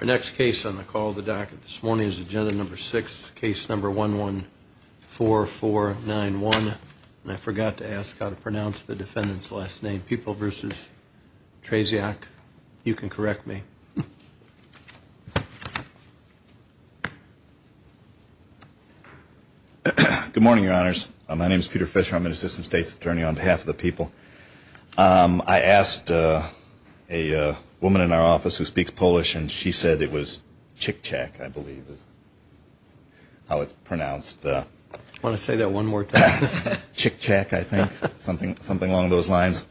Our next case on the call of the docket this morning is agenda number six, case number 114491. I forgot to ask how to pronounce the defendant's last name. People v. Trzeciak, you can correct me. Good morning, your honors. My name is Peter Fisher. I'm an assistant state's attorney on behalf of the people. I asked a woman in our office who speaks Polish, and she said it was Chick-Chak, I believe is how it's pronounced. I want to say that one more time. Chick-Chak, I think, something along those lines.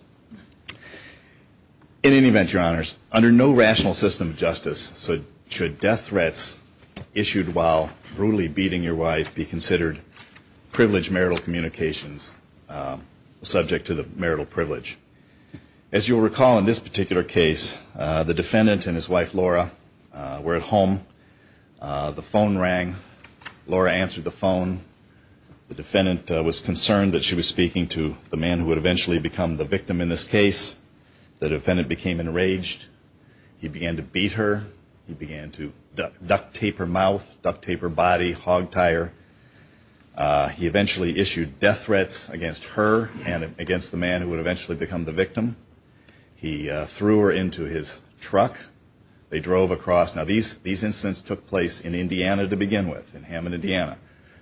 In any event, your honors, under no rational system of justice should death threats issued while brutally beating your wife be considered privileged marital communications, subject to the marital privilege. As you'll recall in this particular case, the defendant and his wife, Laura, were at home. The phone rang. Laura answered the phone. The defendant was concerned that she was speaking to the man who would eventually become the victim in this case. The defendant became enraged. He began to beat her. He began to duct tape her mouth, duct tape her body, hog tire. He eventually issued death threats against her and against the man who would eventually become the victim. He threw her into his truck. They drove across. Now, these incidents took place in Indiana to begin with, in Hammond, Indiana.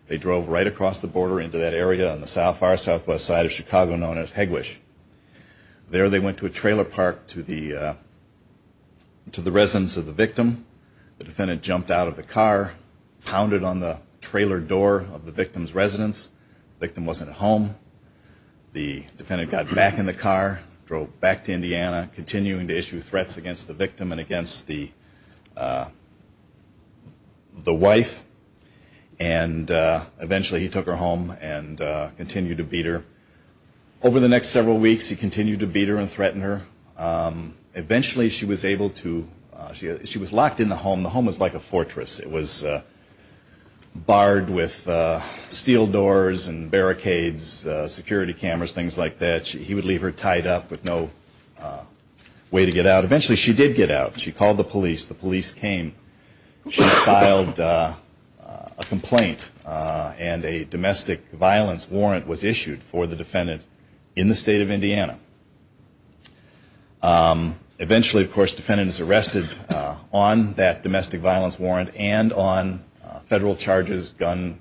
They drove right across the border into that area on the far southwest side of Chicago known as Hegwisch. There they went to a trailer park to the residence of the victim. The defendant jumped out of the car, pounded on the trailer door of the victim's residence. The victim wasn't home. The defendant got back in the car, drove back to Indiana, continuing to issue threats against the victim and against the wife. And eventually, he took her home and continued to beat her. Over the next several weeks, he continued to beat her and threaten her. Eventually, she was able to, she was locked in the home. The home was like a fortress. It was barred with steel doors and barricades, security cameras, things like that. He would leave her tied up with no way to get out. Eventually, she did get out. She called the police. The police came. She filed a complaint and a domestic violence warrant was issued for the defendant in the on that domestic violence warrant and on federal charges, gun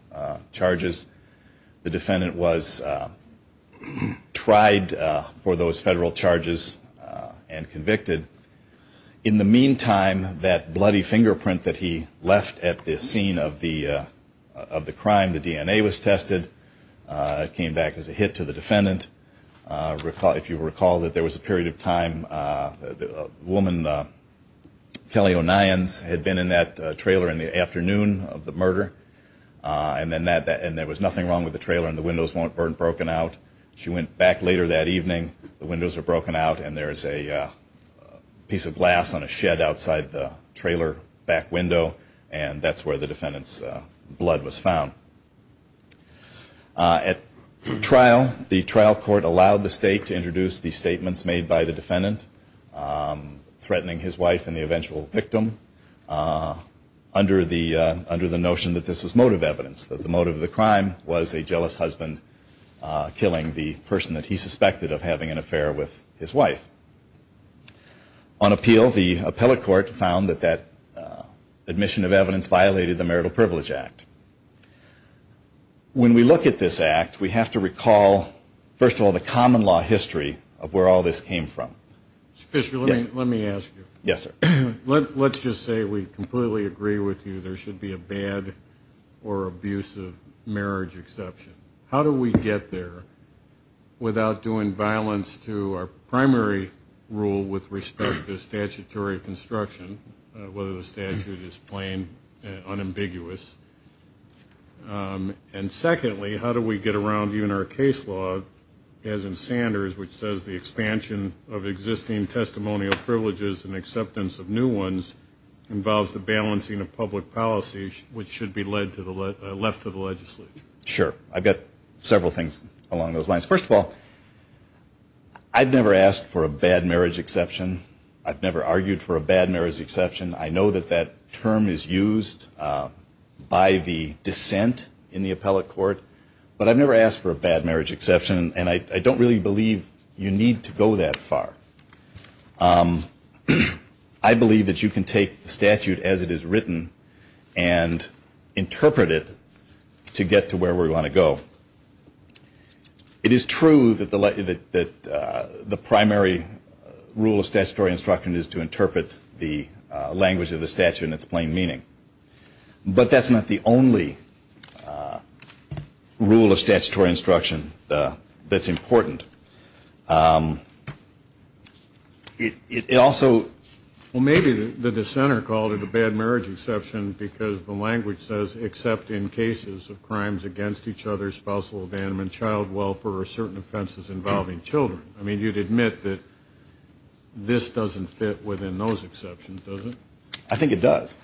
charges. The defendant was tried for those federal charges and convicted. In the meantime, that bloody fingerprint that he left at the scene of the crime, the DNA was tested. It came back as a hit to the defendant. If you recall, there was a period of time, a woman, Kelly O'Nions, had been in that trailer in the afternoon of the murder and there was nothing wrong with the trailer and the windows weren't broken out. She went back later that evening. The windows were broken out and there is a piece of glass on a shed outside the trailer back window and that's where the defendant's to introduce the statements made by the defendant, threatening his wife and the eventual victim, under the notion that this was motive evidence, that the motive of the crime was a jealous husband killing the person that he suspected of having an affair with his wife. On appeal, the appellate court found that that admission of evidence violated the Marital Privilege Act. When we look at this act, we have to recall, first of all, the common law history of where all this came from. Mr. Fisher, let me ask you, let's just say we completely agree with you there should be a bad or abusive marriage exception. How do we get there without doing violence to our primary rule with respect to statutory construction, whether the statute is plain and unambiguous? And secondly, how do we get around even our case law, as in Sanders, which says the expansion of existing testimonial privileges and acceptance of new ones involves the balancing of public policy, which should be left to the legislature? Sure. I've got several things along those lines. First of all, I've never asked for a bad marriage exception. I've never argued for a bad marriage exception. I know that that term is used by the dissent in the appellate court, but I've never asked for a bad marriage exception, and I don't really believe you need to go that far. I believe that you can take the statute as it is written and interpret it to get to where we want to go. It is true that the primary rule of statutory instruction is to interpret the language of the statute in its plain meaning, but that's not the only rule of statutory instruction that's important. It also... Well, maybe the dissenter called it a bad marriage exception because the language says except in cases of crimes against each other, spousal abandonment, child welfare, or certain offenses involving children. I mean, you'd admit that this doesn't fit within those exceptions, does it? I think it does.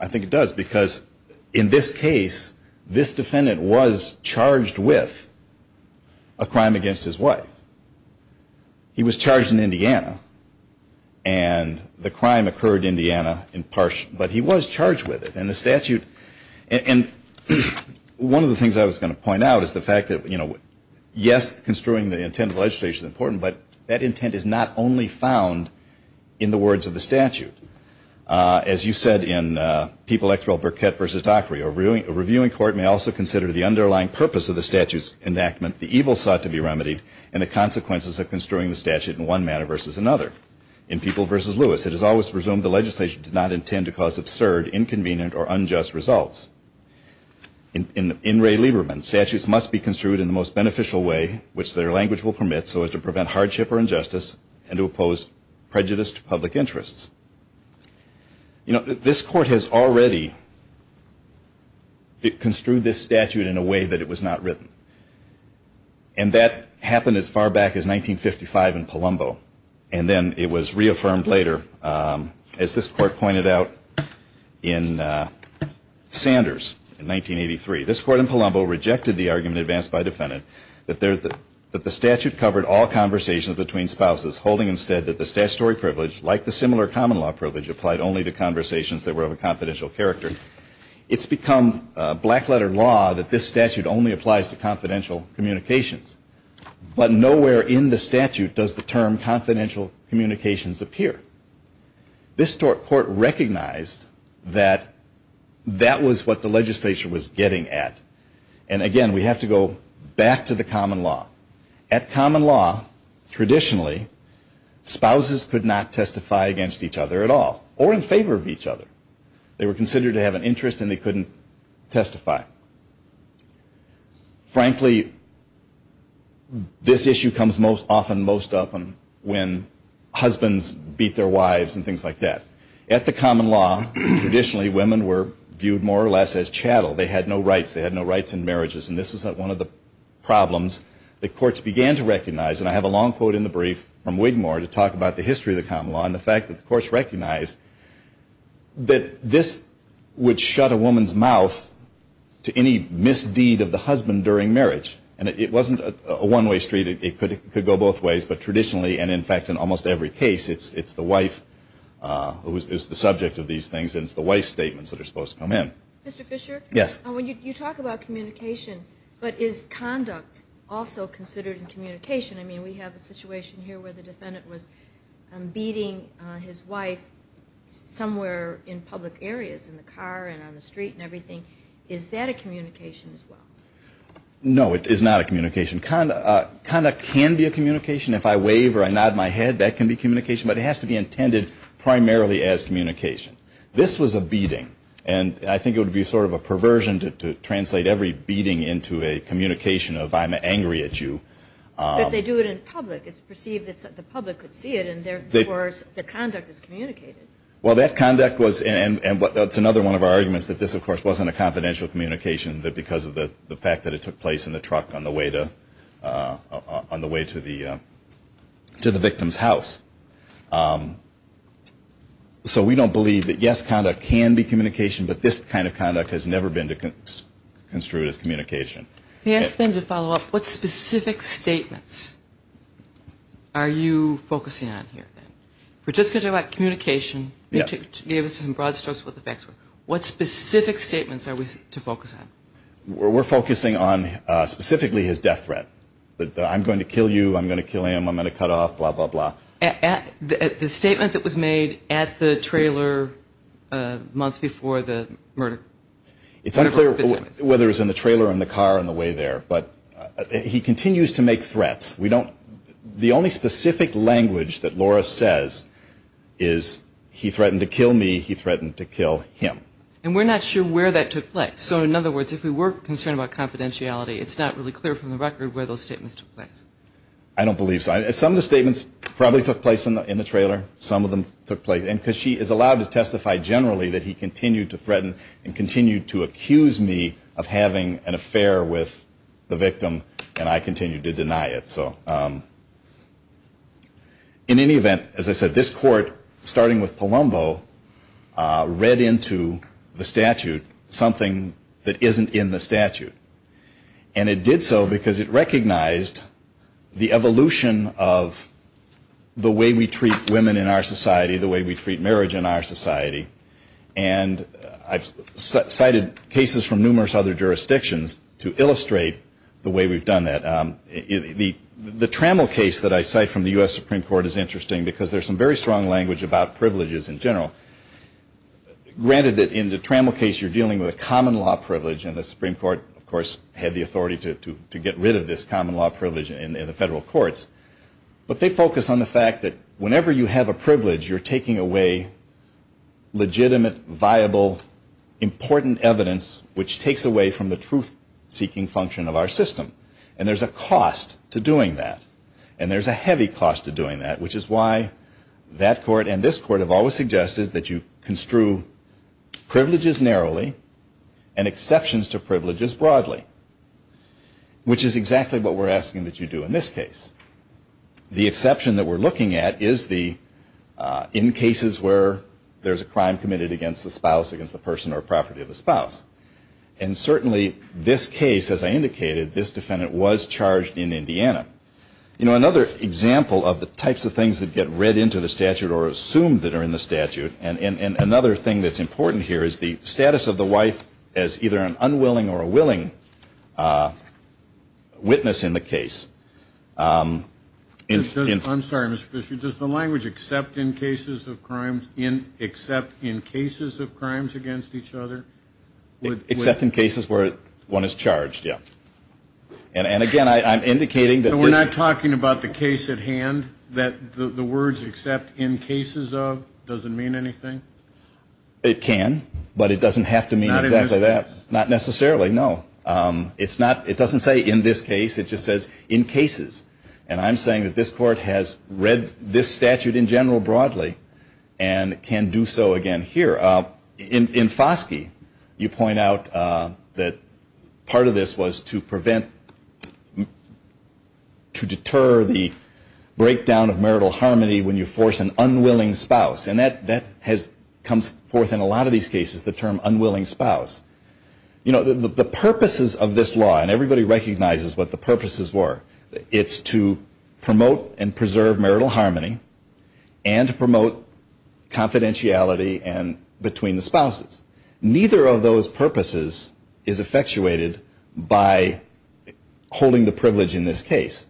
I think it does, because in this case, this defendant was charged with a crime against his wife. He was charged in Indiana, and the crime occurred in Indiana in part, but he was charged with it. And the statute... And one of the things I was going to point out is the fact that, you know, yes, construing the intent of legislation is important, but that intent is not only found in the words of the statute. As you said in People X. Rel. Burkett v. Dockery, a reviewing court may also consider the underlying purpose of the statute's enactment, the evil sought to be remedied, and the consequences of construing the statute in one manner versus another. In People v. Lewis, it is always presumed the legislation did not intend to cause absurd, inconvenient, or unjust results. In Ray Lieberman, statutes must be construed in the most beneficial way which their language will permit so as to prevent hardship or injustice and to oppose prejudice to public interests. You know, this court has already construed this statute in a way that it was not written. And that happened as far back as 1955 in Palumbo, and then it was reaffirmed later, as this court pointed out in Sanders in 1983. This court in Palumbo rejected the argument advanced by a defendant that the statute covered all conversations between spouses, holding instead that the statutory privilege, like the similar common law privilege, applied only to conversations that were of a confidential character. It's become a black letter law that this statute only applies to confidential communications. But nowhere in the statute does the term confidential communications appear. This court recognized that that was what the legislation was getting at. And again, we have to go back to the common law. At common law, traditionally, spouses could not testify against each other at all, or in favor of each other. They were considered to have an interest and they couldn't testify. Frankly, this issue comes most often most often when husbands beat their wives and things like that. At the common law, traditionally women were viewed more or less as chattel. They had no rights. They had no rights in marriages. And this was one of the problems that courts began to recognize. And I have a long quote in the brief from Wigmore to talk about the history of the common law and the fact that the courts recognized that this would shut a woman's mouth to any misdeed of the husband during marriage. And it wasn't a one-way street. It could go both ways. But traditionally, and in fact in almost every case, it's the wife who is the subject of these things and it's the wife's statements that are supposed to come in. Mr. Fisher? Yes. When you talk about communication, but is conduct also considered communication? I mean, we have a situation here where the defendant was beating his wife somewhere in public areas, in the car and on the street and everything. Is that a communication as well? No, it is not a communication. Conduct can be a communication. If I wave or I nod my hand, this was a beating. And I think it would be sort of a perversion to translate every beating into a communication of I'm angry at you. But they do it in public. It's perceived that the public could see it and therefore the conduct is communicated. Well that conduct was, and it's another one of our arguments that this of course wasn't a confidential communication because of the fact that it took place in the truck on the way to the victim's house. So we don't believe that yes, conduct can be communication, but this kind of conduct has never been construed as communication. Can I ask a thing to follow up? What specific statements are you focusing on here? We're just going to talk about communication. You gave us some broad strokes what the facts were. What specific statements are we to focus on? We're focusing on specifically his death threat. I'm going to kill you, I'm going to kill him, I'm going to cut off, blah, blah, blah. The statement that was made at the trailer a month before the murder. It's unclear whether it was in the trailer or in the car on the way there, but he continues to make threats. We don't, the only specific language that Laura says is he threatened to kill me, he threatened to kill him. And we're not sure where that took place. So in other words, if we were concerned about confidentiality, it's not really clear from the record where those statements took place. I don't believe so. Some of the statements probably took place in the trailer. Some of them took place. And because she is allowed to testify generally that he continued to threaten and continued to accuse me of having an affair with the victim, and I continued to deny it. So in any event, as I said, this court, starting with Palumbo, read into the statute something that isn't in the statute. And it did so because it recognized the evolution of the way we treat women in our society, the way we treat marriage in our society. And I've cited cases from numerous other jurisdictions to illustrate the way we've done that. The Trammell case that I cite from the U.S. Supreme Court is interesting because there's some very strong language about privileges in general. Granted that in the Trammell case, you're dealing with a common law privilege, and the Supreme Court, of course, had the authority to get rid of this common law privilege in the federal courts. But they focus on the fact that whenever you have a privilege, you're taking away legitimate, viable, important evidence which takes away from the truth-seeking function of our system. And there's a cost to doing that. And there's a heavy cost to doing that, which is why that court and this court have always suggested that you construe privileges narrowly and exceptions to privileges broadly, which is exactly what we're asking that you do in this case. The exception that we're asking that you do in this case is that you have to be in cases where there's a crime committed against the spouse, against the person or property of the spouse. And certainly this case, as I indicated, this defendant was charged in Indiana. You know, another example of the types of things that get read into the statute or assumed that are in the statute, and another thing that's important here is the status of the wife as either an except in cases of crimes, except in cases of crimes against each other. Except in cases where one is charged, yeah. And again, I'm indicating that this So we're not talking about the case at hand, that the words except in cases of doesn't mean anything? It can, but it doesn't have to mean exactly that. Not in this case? Not necessarily, no. It's not, it doesn't say in this case, it just says in cases. And I'm saying that this court has read this statute in general broadly and can do so again here. In Foskey, you point out that part of this was to prevent, to deter the breakdown of marital harmony when you force an unwilling spouse. And that has, comes forth in a lot of these cases, the term unwilling spouse. You know, the purposes of this law, and everybody recognizes what the purposes were, it's to promote and preserve marital harmony, and to promote confidentiality and between the spouses. Neither of those purposes is effectuated by holding the privilege in this case.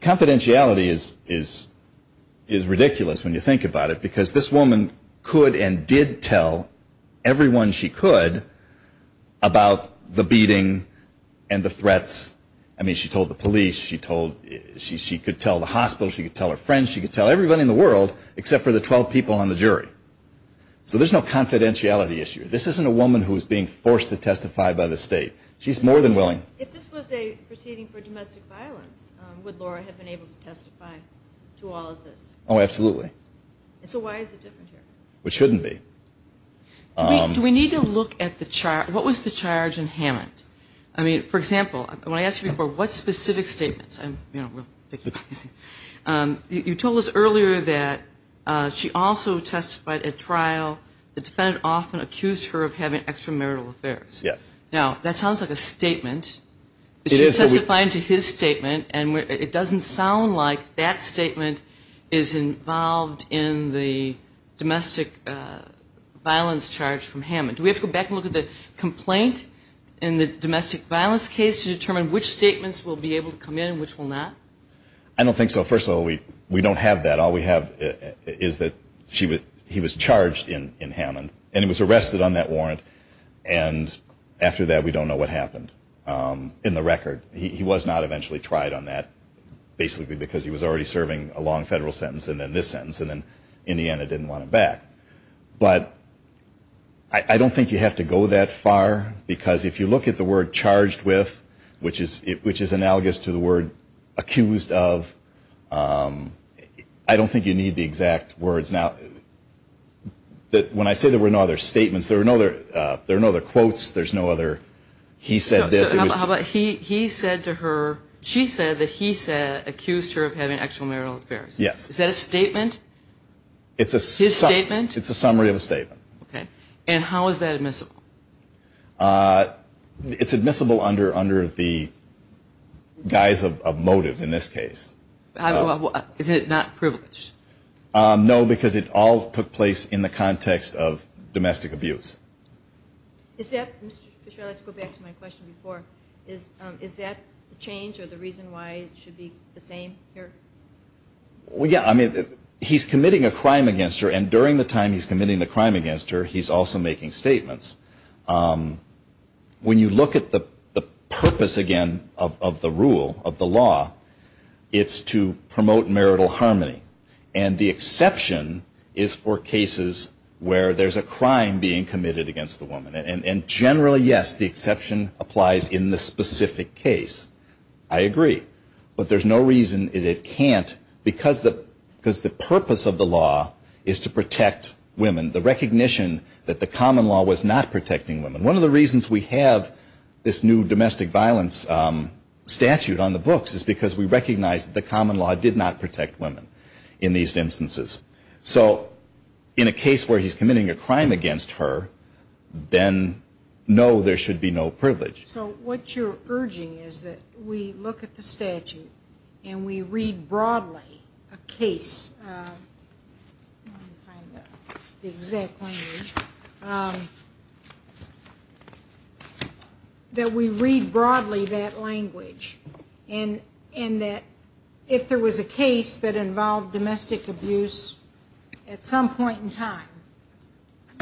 Confidentiality is, is, is ridiculous when you think about it, because this woman could and did tell everyone she could about the beating and the threats. I mean, she told the police, she told, she could tell the hospital, she could tell her friends, she could tell everybody in the world, except for the 12 people on the jury. So there's no confidentiality issue. This isn't a woman who is being forced to testify by the state. She's more than willing. If this was a proceeding for domestic violence, would Laura have been able to testify to all of this? Oh, absolutely. So why is it different here? Which shouldn't be. Do we, do we need to look at the, what was the charge in Hammond? I mean, for example, I asked you before, what specific statements? I'm, you know, real picky. You told us earlier that she also testified at trial. The defendant often accused her of having extramarital affairs. Yes. Now, that sounds like a statement. It is, but we But she testified to his statement, and it doesn't sound like that statement is involved in the domestic violence charge from Hammond. Do we have to go back and look at the complaint in the domestic violence case to determine which statements will be able to come in and which will not? I don't think so. First of all, we don't have that. All we have is that she was, he was charged in Hammond, and he was arrested on that warrant. And after that, we don't know what happened in the record. He was not eventually tried on that, basically because he was already serving a long federal sentence and then this sentence, and then in the end, it didn't want him back. But I don't think you have to go that far, because if you look at the word charged with, which is analogous to the word accused of, I don't think you need the exact words. Now, when I say there were no other statements, there were no other quotes, there's no other he said this. How about he said to her, she said that he accused her of having extramarital affairs. Yes. Is that a statement? It's a summary of a statement. Okay. And how is that admissible? It's admissible under the guise of motive in this case. Is it not privileged? No, because it all took place in the context of domestic abuse. Is that, Mr. Fisher, I'd like to go back to my question before. Is that the change or the reason why it should be the same here? Well, yeah, I mean, he's committing a crime against her, and during the time he's committing the crime against her, he's also making statements. When you look at the purpose, again, of the rule, of the law, it's to promote marital harmony. And the exception is for cases where there's a crime being committed against the woman. And generally, yes, the exception applies in the specific case. I agree. But there's no reason that it can't, because the purpose of the law is to protect women, the recognition that the common law was not protecting women. One of the reasons we have this new domestic violence statute on the books is because we recognize that the common law did not protect women in these instances. So in a case where he's committing a crime against her, then no, there should be no privilege. So what you're urging is that we look at the statute and we read broadly a case, let me find the exact language, that we read broadly that language, and that if there was a case that involved domestic abuse at some point in time,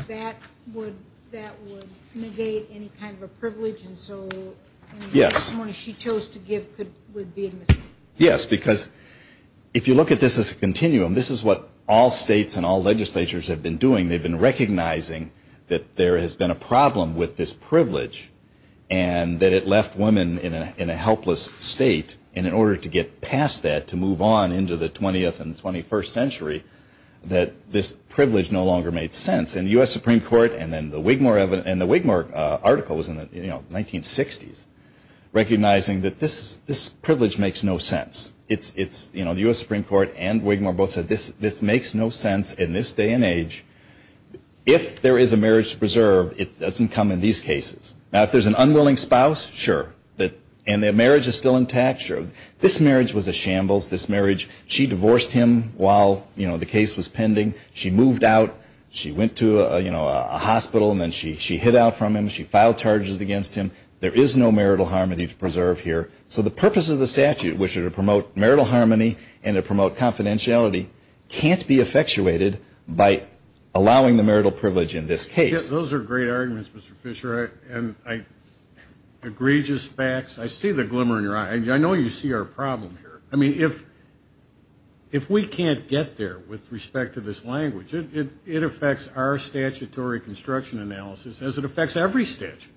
that would negate any kind of a privilege that was given to the woman. Yes. Yes, because if you look at this as a continuum, this is what all states and all legislatures have been doing. They've been recognizing that there has been a problem with this privilege, and that it left women in a helpless state. And in order to get past that, to move on into the 20th and 21st century, that this privilege no longer made sense. And the U.S. Supreme Court and the Wigmore article was in the 1960s, recognizing that this privilege makes no sense. The U.S. Supreme Court and Wigmore both said this makes no sense in this day and age. If there is a marriage to preserve, it doesn't come in these cases. Now, if there's an unwilling spouse, sure, and the marriage is still intact, sure. This marriage was a shambles. This marriage, she divorced him while the case was pending. She moved out. She went to, you know, a hospital, and then she hid out from him. She filed charges against him. There is no marital harmony to preserve here. So the purpose of the statute, which is to promote marital harmony and to promote confidentiality, can't be effectuated by allowing the marital privilege in this case. Those are great arguments, Mr. Fisher, and egregious facts. I see the glimmer in your eye. I know you see our problem here. I mean, if we can't get there with respect to this language, it affects our statutory construction analysis as it affects every statute.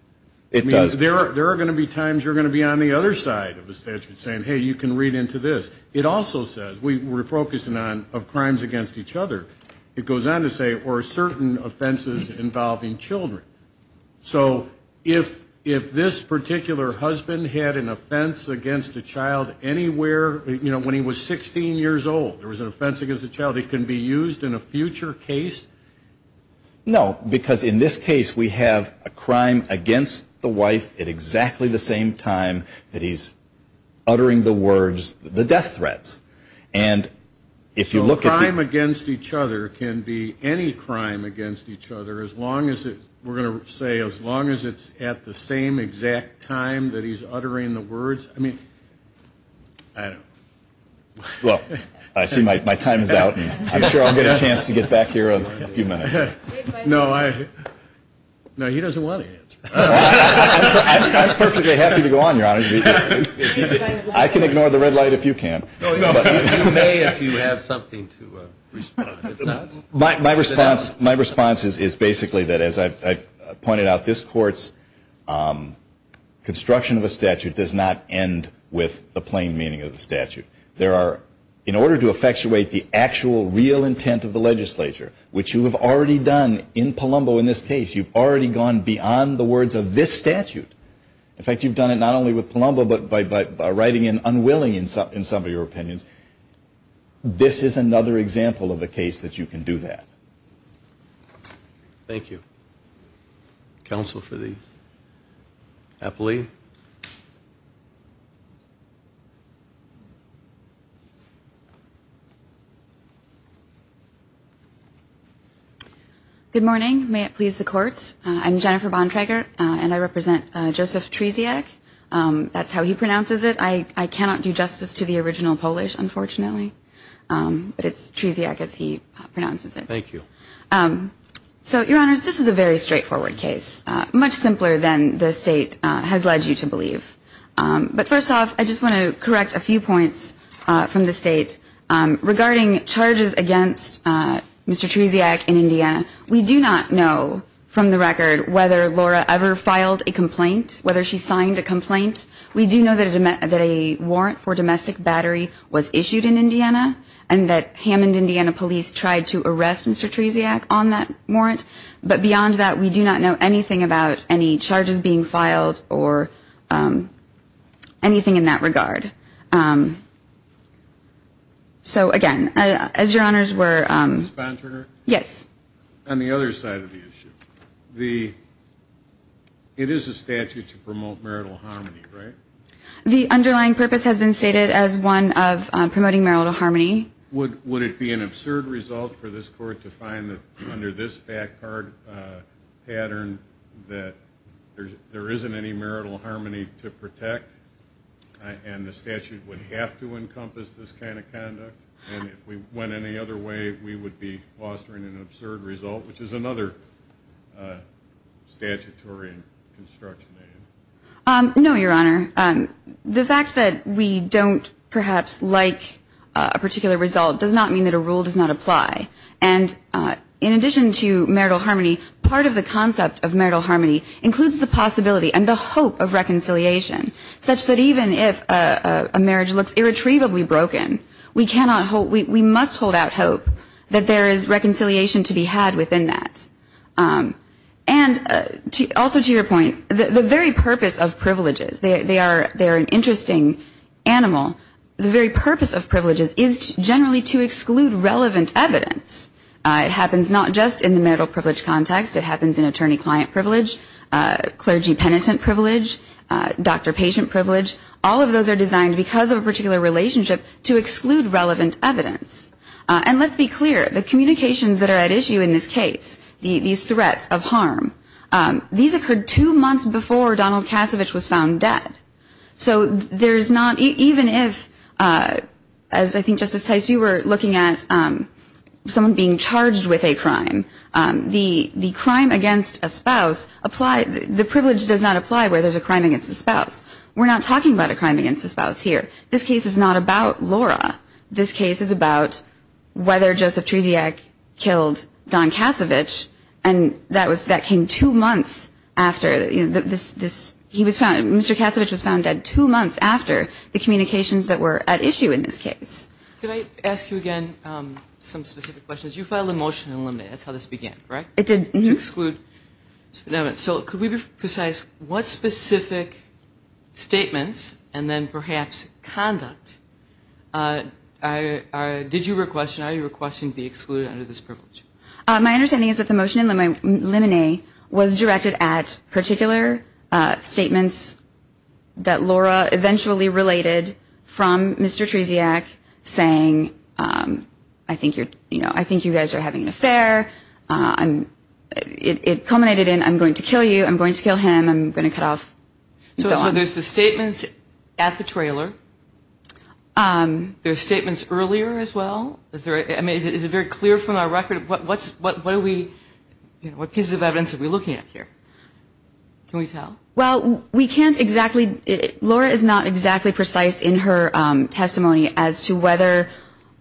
It does. There are going to be times you're going to be on the other side of the statute saying, hey, you can read into this. It also says, we're focusing on crimes against each other. It goes on to say, or certain offenses involving children. So if this particular husband had an offense against a child anywhere, you know, when he was 16 years old, there was an offense against a child, it can be used in a future case? No, because in this case, we have a crime against the wife at exactly the same time that he's uttering the words, the death threats. And if you look at the- So a crime against each other can be any crime against each other, we're going to say as long as it's at the same exact time that he's uttering the words? I mean, I don't know. Well, I see my time is out, and I'm sure I'll get a chance to get back here in a few minutes. No, he doesn't want to answer. I'm perfectly happy to go on, Your Honor. I can ignore the red light if you can. No, you may if you have something to respond. My response is basically that as I pointed out, this Court's construction of a statute does not end with the plain meaning of the statute. There are, in order to effectuate the actual real intent of the legislature, which you have already done in Palumbo in this case, you've already gone beyond the words of this statute. In fact, you've done it not only with Palumbo, but by writing in unwilling in some of your opinions. This is another example of a case that you can do that. Thank you. Counsel for the appellee. Good morning. May it please the Court. I'm Jennifer Bontrager, and I represent Joseph Tresiak. That's how he pronounces it. I cannot do justice to the original Polish. Unfortunately. But it's Tresiak as he pronounces it. Thank you. So, Your Honors, this is a very straightforward case, much simpler than the State has led you to believe. But first off, I just want to correct a few points from the State regarding charges against Mr. Tresiak in Indiana. We do not know from the record whether Laura ever filed a complaint, whether she signed a complaint. We do know that a warrant for domestic battery was issued in Indiana and that Hammond, Indiana police tried to arrest Mr. Tresiak on that warrant. But beyond that, we do not know anything about any charges being filed or anything in that regard. So, again, as Your Honors were... Ms. Bontrager? Yes. On the other side of the issue, the... It is a statute to promote marital harmony, right? The underlying purpose has been stated as one of promoting marital harmony. Would it be an absurd result for this Court to find that under this fact pattern that there isn't any marital harmony to protect and the statute would have to encompass this kind of conduct? And if we went any other way, we would be fostering an absurd result, which is another statutory construction. No, Your Honor. The fact that we don't perhaps like a particular result does not mean that a rule does not apply. And in addition to marital harmony, part of the concept of marital harmony includes the possibility and the hope of reconciliation, such that even if a marriage looks irretrievably broken, we must hold out hope that there is reconciliation to be had within that. And also to your point, the very purpose of privileges, they are an interesting animal, the very purpose of privileges is generally to exclude relevant evidence. It happens not just in the marital privilege context, it happens in attorney-client privilege, clergy-penitent privilege, doctor-patient privilege. All of those are designed because of a particular relationship to exclude relevant evidence. And let's be clear, the communications that are at issue in this case, these threats of harm, these occurred two months before Donald Cassavich was found dead. So there's not, even if, as I think Justice Tice, you were looking at someone being charged with a crime, the crime against a spouse, the privilege does not apply where there's a crime against a spouse. We're not talking about a crime against a spouse here. This case is not about Laura. This case is about whether Joseph Treziak killed Don Cassavich, and that was, that came two months after this, he was found, Mr. Cassavich was found dead two months after the communications that were at issue in this case. Can I ask you again some specific questions? You filed a motion to eliminate, that's how this began, right? It did. To exclude, so could we be precise, what specific statements, and then perhaps conduct, did you request, are you requesting to be excluded under this privilege? My understanding is that the motion to eliminate was directed at particular statements that Laura eventually related from Mr. Treziak saying, I think you guys are having an affair, it culminated in, I'm going to kill you, I'm going to kill him, I'm going to cut off, and so on. So there's the statements at the trailer, there's statements earlier as well, is it very clear from our record, what are we, what pieces of evidence are we looking at here? Can we tell? Well, we can't exactly, Laura is not exactly precise in her testimony as to whether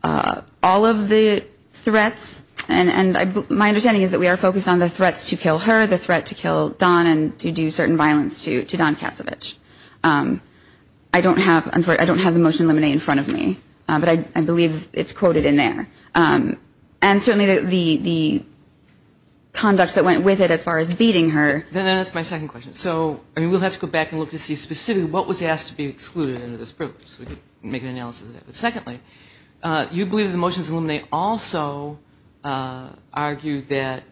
all of the threats, and my understanding is that we are focused on the threats to kill her, the threat to kill Don, and to do certain violence to Don Kasevich. I don't have the motion to eliminate in front of me. But I believe it's quoted in there. And certainly the conduct that went with it as far as beating her. Then that's my second question. So, we'll have to go back and look to see specifically what was asked to be excluded under this privilege. So we can make an analysis of that. But secondly, you believe that the motions to eliminate also argue that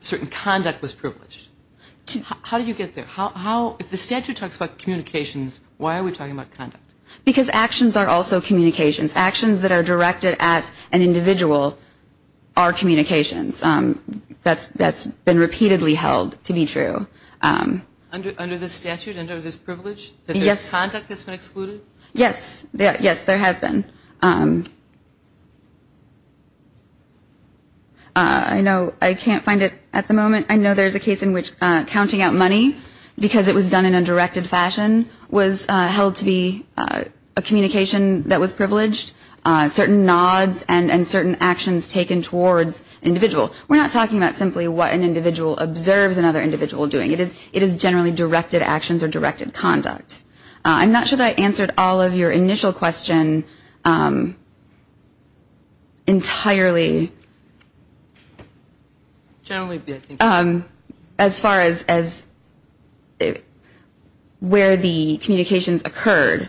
certain conduct was privileged. How do you get there? If the statute talks about communications, why are we talking about conduct? Because actions are also communications. Actions that are directed at an individual are communications. That's been repeatedly held to be true. Under the statute, under this privilege, that there's conduct that's been excluded? Yes. Yes, there has been. I know I can't find it at the moment. I know there's a case in which counting out money because it was done in a directed fashion was held to be a communication that was privileged. Certain nods and certain actions taken towards an individual. We're not talking about simply what an individual observes another individual doing. It is generally directed actions or directed conduct. I'm not sure that I answered all of your initial question entirely as far as where the communications occurred.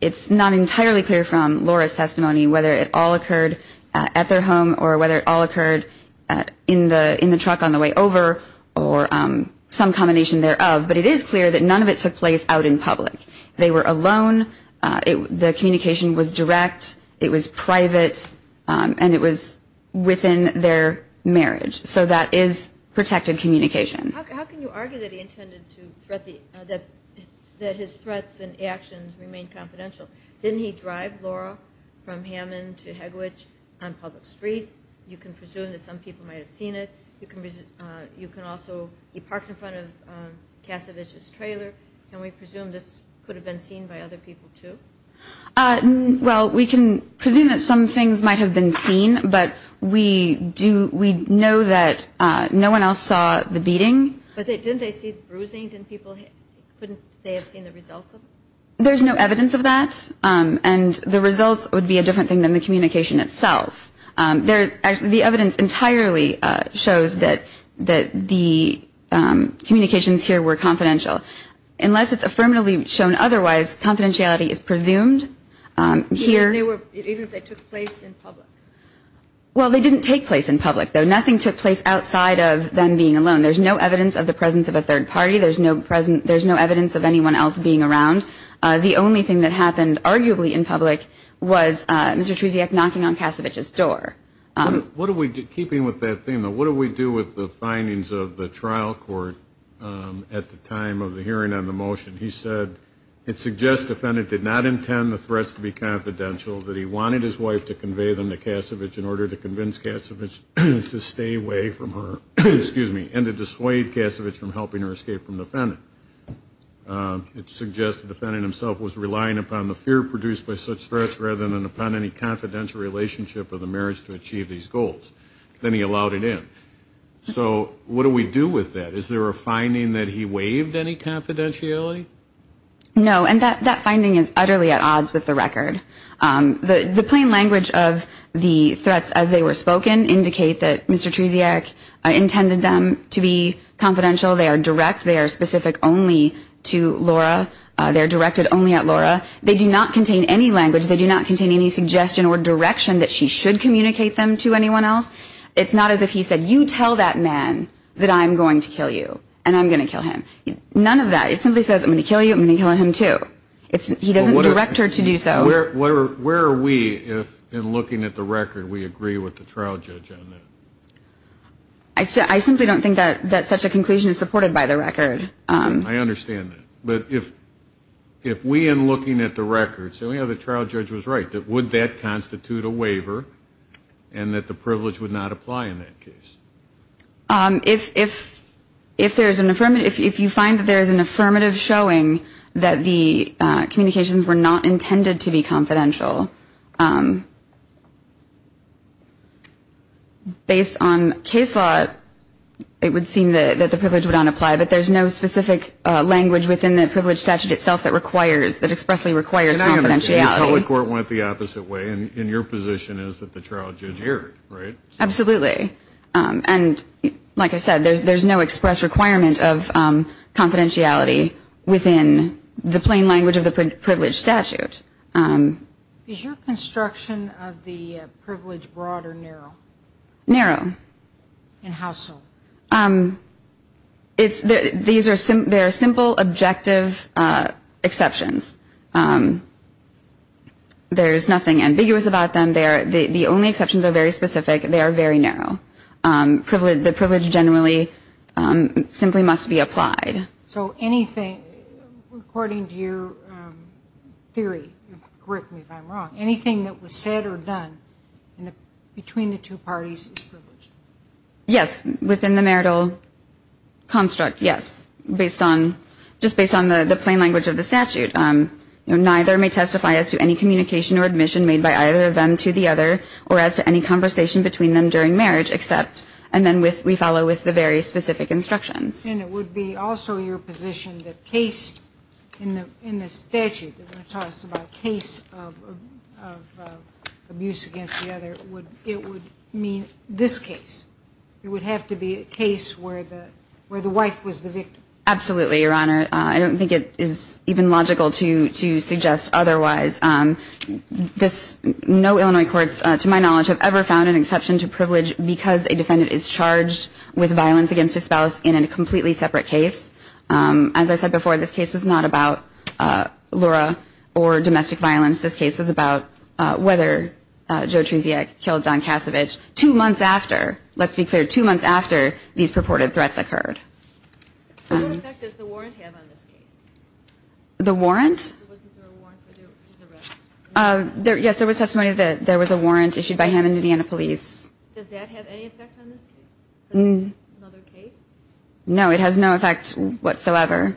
It's not entirely clear from Laura's testimony whether it all occurred at their home or whether it all occurred in the truck on the way over or some combination thereof. But it is clear that none of it took place out in public. They were alone. The communication was direct. It was private. And it was within their marriage. So that is protected communication. How can you argue that his threats and actions remain confidential? Didn't he drive Laura from Hammond to Hegwich on public streets? You can presume that some people might have seen it. You can also park in front of Cassavich's trailer. Can we presume this could have been seen by other people too? Well, we can presume that some things might have been seen but we know that no one else saw the beating. But didn't they see bruising? Couldn't they have seen the results of it? There's no evidence of that. And the results would be a different thing than the communication itself. The evidence entirely shows that the communications here were confidential. Unless it's affirmatively shown otherwise, confidentiality is presumed. Even if they took place in public? Well, they didn't take place in public. Nothing took place outside of them being alone. There's no evidence of the presence of a third party. There's no evidence of anyone else being around. The only thing that happened, arguably in public, was Mr. Trusiak knocking on Cassavich's door. Keeping with that theme, what do we do with the findings of the trial court at the time of the hearing on the motion? He said, it suggests the defendant did not intend the threats to be confidential, that he wanted his wife to convey them to Cassavich in order to convince Cassavich to stay away from her and to dissuade Cassavich from helping her escape from the defendant. It suggests the defendant himself was relying upon the fear produced by such threats rather than upon any confidential relationship of the marriage to achieve these goals. Then he allowed it in. So what do we do with that? Is there a finding that he waived any confidentiality? No. And that finding is utterly at odds with the record. The plain language of the threats as they were spoken indicate that Mr. Trusiak intended them to be confidential. They are direct. They are specific only to Laura. They are directed only at Laura. They do not contain any language. They do not contain any suggestion or direction that she should communicate them to anyone else. It's not as if he said, you tell that man that I'm going to kill you and I'm going to kill him. None of that. It simply says, I'm going to kill you and I'm going to kill him too. He doesn't direct her to do so. Where are we if, in looking at the record, we agree with the trial judge on that? I simply don't think that such a conclusion is supported by the record. I understand that. But if we, in looking at the record, say the trial judge was right, would that constitute a waiver and that the privilege would not apply in that case? If there is an affirmative, if you find that there is an affirmative showing that the communications were not intended to be confidential, based on case law, it would seem that the privilege would not apply. But there is no specific language within the privilege statute itself that expressly requires confidentiality. The public court went the opposite way and your position is that the trial judge heard, right? Absolutely. Like I said, there is no express requirement of confidentiality within the plain language of the privilege statute. Is your construction of the privilege broad or narrow? Narrow. And how so? These are simple, objective exceptions. There is nothing ambiguous about them. The only exceptions are very specific. They are very narrow. The privilege generally simply must be applied. So anything, according to your theory, correct me if I'm wrong, anything that was said or done between the two parties is privilege? Yes. Within the marital construct, yes. Just based on the plain language of the statute. Neither may testify as to any communication or admission made by either of them to the other or as to any conversation between them during marriage except, and then we follow with the very specific instructions. And it would be also your position that case in the statute when it talks about case of abuse against the other it would mean this case. It would have to be a case where the wife was the victim. Absolutely, Your Honor. I don't think it is even logical to suggest otherwise. No Illinois courts, to my knowledge, have ever found an exception to privilege because a defendant is charged with violence against a spouse in a completely separate case. As I said before, this case was not about Laura or domestic violence. This case was about whether Joe Trusiak killed Don Kasevich two months after, let's be clear, two months after these purported threats occurred. What effect does the warrant have on this case? The warrant? Yes, there was testimony that there was a warrant issued by him and Indiana police. Does that have any effect on this case? No, it has no effect whatsoever.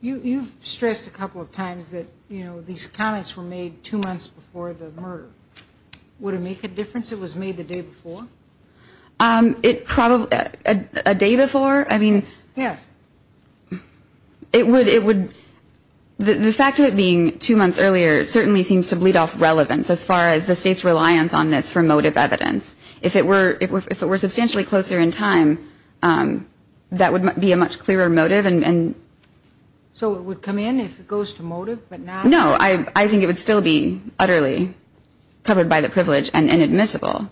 You've stressed a couple of times that these comments were made two months before the murder. Would it make a difference if it was made the day before? A day before? Yes. The fact of it being two months earlier certainly seems to bleed off relevance as far as the state's reliance on this for motive evidence. If it were substantially closer in time, that would be a much clearer motive. So it would come in if it goes to motive? No, I think it would still be utterly covered by the privilege and inadmissible.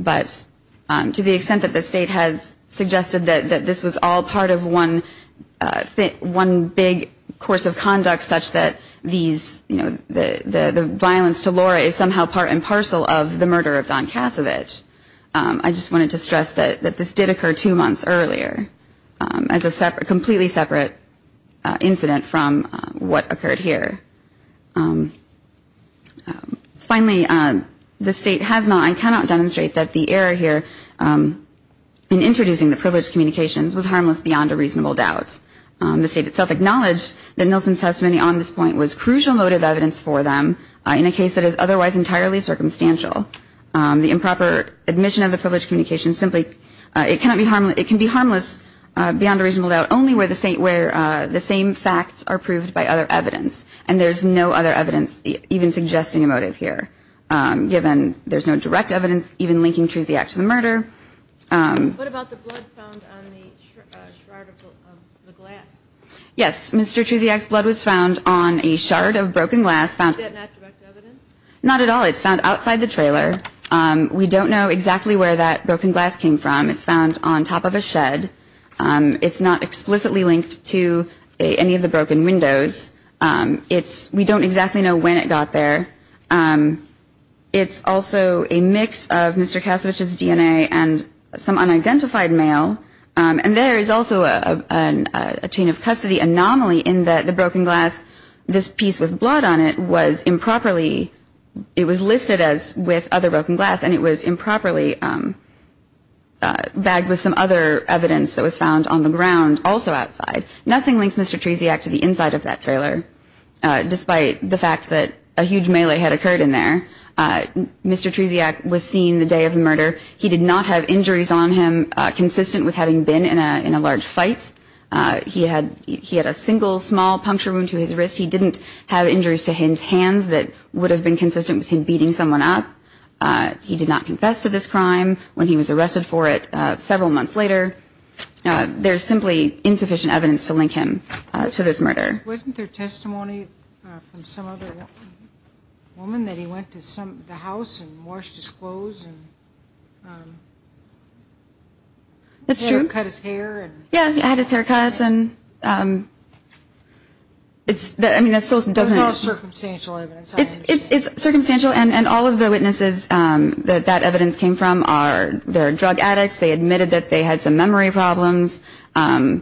But to the extent that the state has suggested that this was all part of one big course of conduct such that the violence to Laura is somehow part and parcel of the murder of Don Kasevich, I just wanted to stress that this did occur two months earlier as a completely separate incident from what occurred here. Finally, the state has not and cannot demonstrate that the error here in introducing the privilege communications was harmless beyond a reasonable doubt. The state itself acknowledged that Nilsen's testimony on this point was crucial motive evidence for them in a case that is otherwise entirely circumstantial. The improper admission of the privilege communications can be harmless beyond a reasonable doubt only where the same facts are proved by other evidence. And there's no other evidence even suggesting a motive here given there's no direct evidence even linking Truziak to the murder. What about the blood found on the shard of the glass? Yes, Mr. Truziak's blood was found on a shard of broken glass. Is that not direct evidence? Not at all. It's found outside the trailer. We don't know exactly where that broken glass came from. It's found on top of a shed. It's not explicitly linked to any of the broken windows. We don't exactly know when it got there. It's also a mix of Mr. Cassavich's DNA and some unidentified mail. And there is also a chain of custody anomaly in that the broken glass, this piece with blood on it, was improperly... It was listed as with other broken glass and it was improperly bagged with some other evidence that was found on the ground also outside. Nothing links Mr. Truziak to the inside of that trailer despite the fact that a huge melee had occurred in there. Mr. Truziak was seen the day of the murder. He did not have injuries on him consistent with having been in a large fight. He had a single small puncture wound to his wrist. He didn't have injuries to his hands that would have been consistent with him beating someone up. He did not confess to this crime when he was arrested for it several months later. There is simply insufficient evidence to link him to this murder. Wasn't there testimony from some other woman that he went to the house and washed his clothes and cut his hair? Yeah, he had his hair cut. It's all circumstantial evidence. It's circumstantial and all of the witnesses that that evidence came from are drug addicts. They admitted that they had some memory problems. What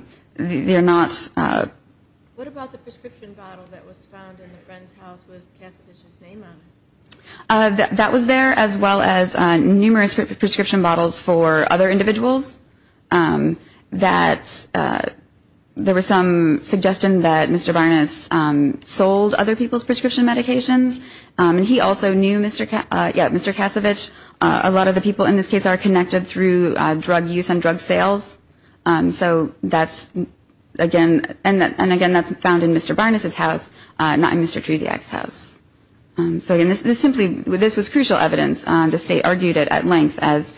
about the prescription bottle that was found in the friend's house with Kasevich's name on it? That was there as well as numerous prescription bottles for other individuals. There was some suggestion that Mr. Varnas sold other people's prescription medications. He also knew Mr. Kasevich. A lot of the people in this case are connected through drug use and drug sales. Again, that's found in Mr. Varnas's house not in Mr. Treziak's house. This was crucial evidence. The state argued it at length as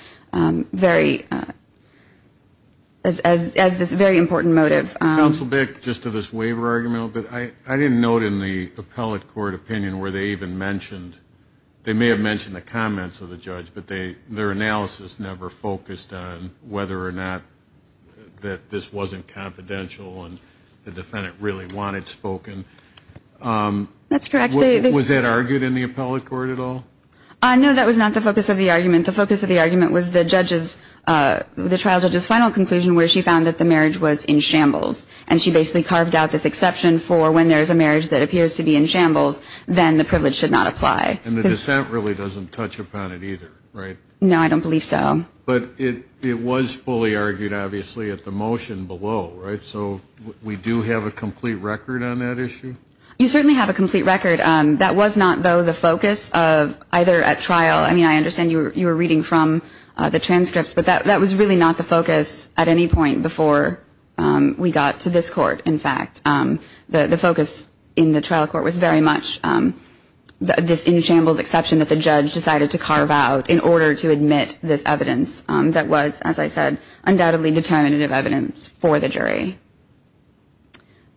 this very important motive. Counsel Bick, just to this waiver argument, I didn't note in the appellate court opinion where they even mentioned, they may have mentioned the comments of the judge but their analysis never focused on whether or not this wasn't confidential and the defendant really wanted spoken. Was that argued in the appellate court at all? No, that was not the focus of the argument. The focus of the argument was the trial judge's final conclusion where she found that the marriage was in shambles and she basically carved out this exception for when there's a marriage that appears to be in shambles then the privilege should not apply. And the dissent really doesn't touch upon it either, right? No, I don't believe so. But it was fully argued, obviously, at the motion below, right? So we do have a complete record on that issue? You certainly have a complete record. That was not, though, the focus of either at trial, I mean, I understand you were reading from the transcripts but that was really not the focus at any point before we got to this court, in fact. The focus in the trial court was very much this in shambles exception that the judge decided to carve out in order to admit this evidence that was, as I said, undoubtedly determinative evidence for the jury.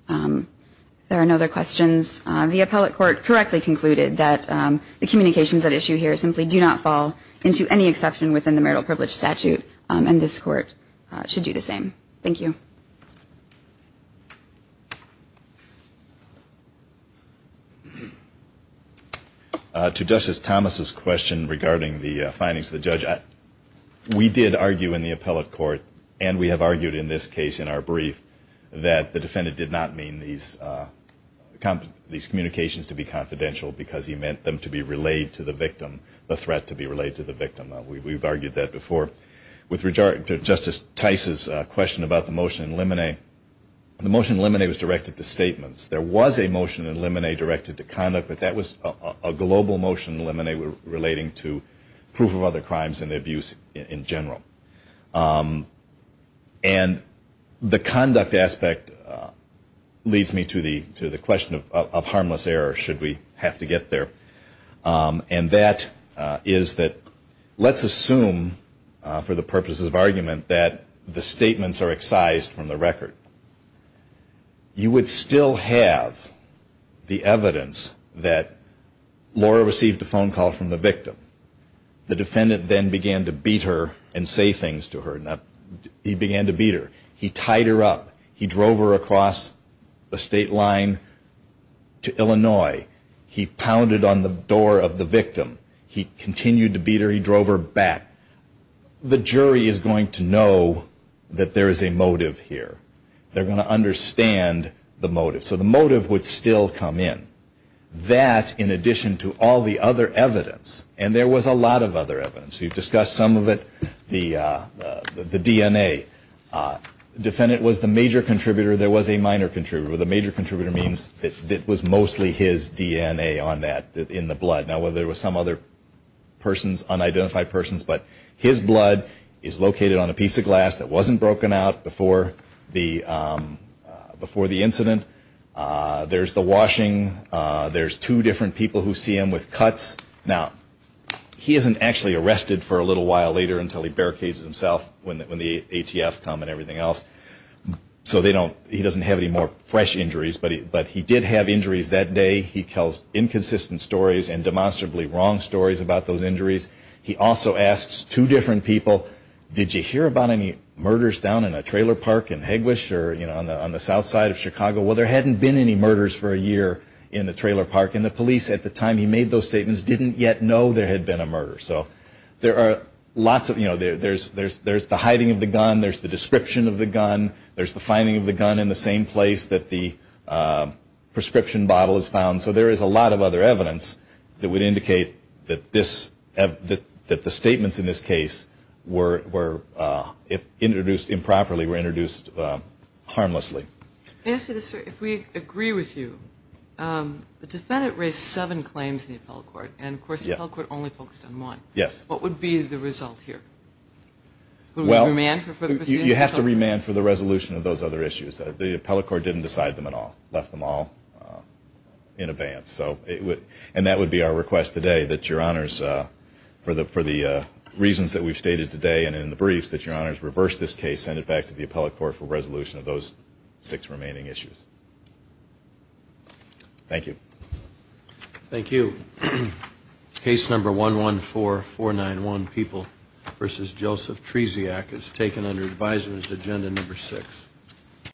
If there are no other questions, the appellate court correctly concluded that the communications at issue here simply do not fall into any exception within the marital privilege statute and this court should do the same. Thank you. To Justice Thomas' question regarding the findings of the judge, we did argue in the appellate court and we have argued in this case in our brief that the defendant did not mean these communications to be confidential because he meant them to be relayed to the victim, the threat to be relayed to the victim. We've argued that before. With regard to Justice Tice's question about the motion in limine, the motion in limine was directed to statements. There was a motion in limine directed to conduct but that was a global motion in limine relating to proof of other crimes and abuse in general. And the conduct aspect leads me to the question of harmless error should we have to get there. And that is that let's assume for the purposes of argument that the statements are excised from the record. You would still have the evidence that Laura received a phone call from the victim. The defendant then began to beat her and say things to her. He began to beat her. He tied her up. He drove her across a state line to Illinois. He pounded on the door of the victim. He continued to beat her. He drove her back. The jury is going to know that there is a motive here. They're going to understand the motive. So the motive would still come in. That, in addition to all the other evidence and there was a lot of other evidence you've discussed some of it, the DNA. The defendant was the major contributor. There was a minor contributor. The major contributor means it was mostly his DNA in the blood. There were some other unidentified persons but his blood is located on a piece of glass that wasn't broken out before the incident. There's the washing. There's two different people who see him with cuts. He isn't actually arrested for a little while later until he barricades himself when the ATF come and everything else. He doesn't have any more fresh injuries but he did have injuries that day. He tells inconsistent stories and demonstrably wrong stories about those injuries. He also asks two different people did you hear about any murders down in a trailer park in Hegwisch or on the south side of Chicago? There hadn't been any murders for a year in the trailer park and the police at the time he made those statements didn't yet know there had been a murder. There's the hiding of the gun. There's the description of the gun. There's the finding of the gun in the same place that the prescription bottle is found. So there is a lot of other evidence that would indicate that the statements in this case were introduced improperly were introduced harmlessly. If we agree with you the defendant raised seven claims in the appellate court and the appellate court only focused on one. What would be the result here? You have to remand for the resolution of those other issues. The appellate court didn't decide them at all. It left them all in abeyance. And that would be our request today for the reasons that we've stated today and in the briefs, that your honors reverse this case and send it back to the appellate court for resolution of those six remaining issues. Thank you. Thank you. Case number 114491, People v. Joseph Treziak is taken under advisers agenda number 6.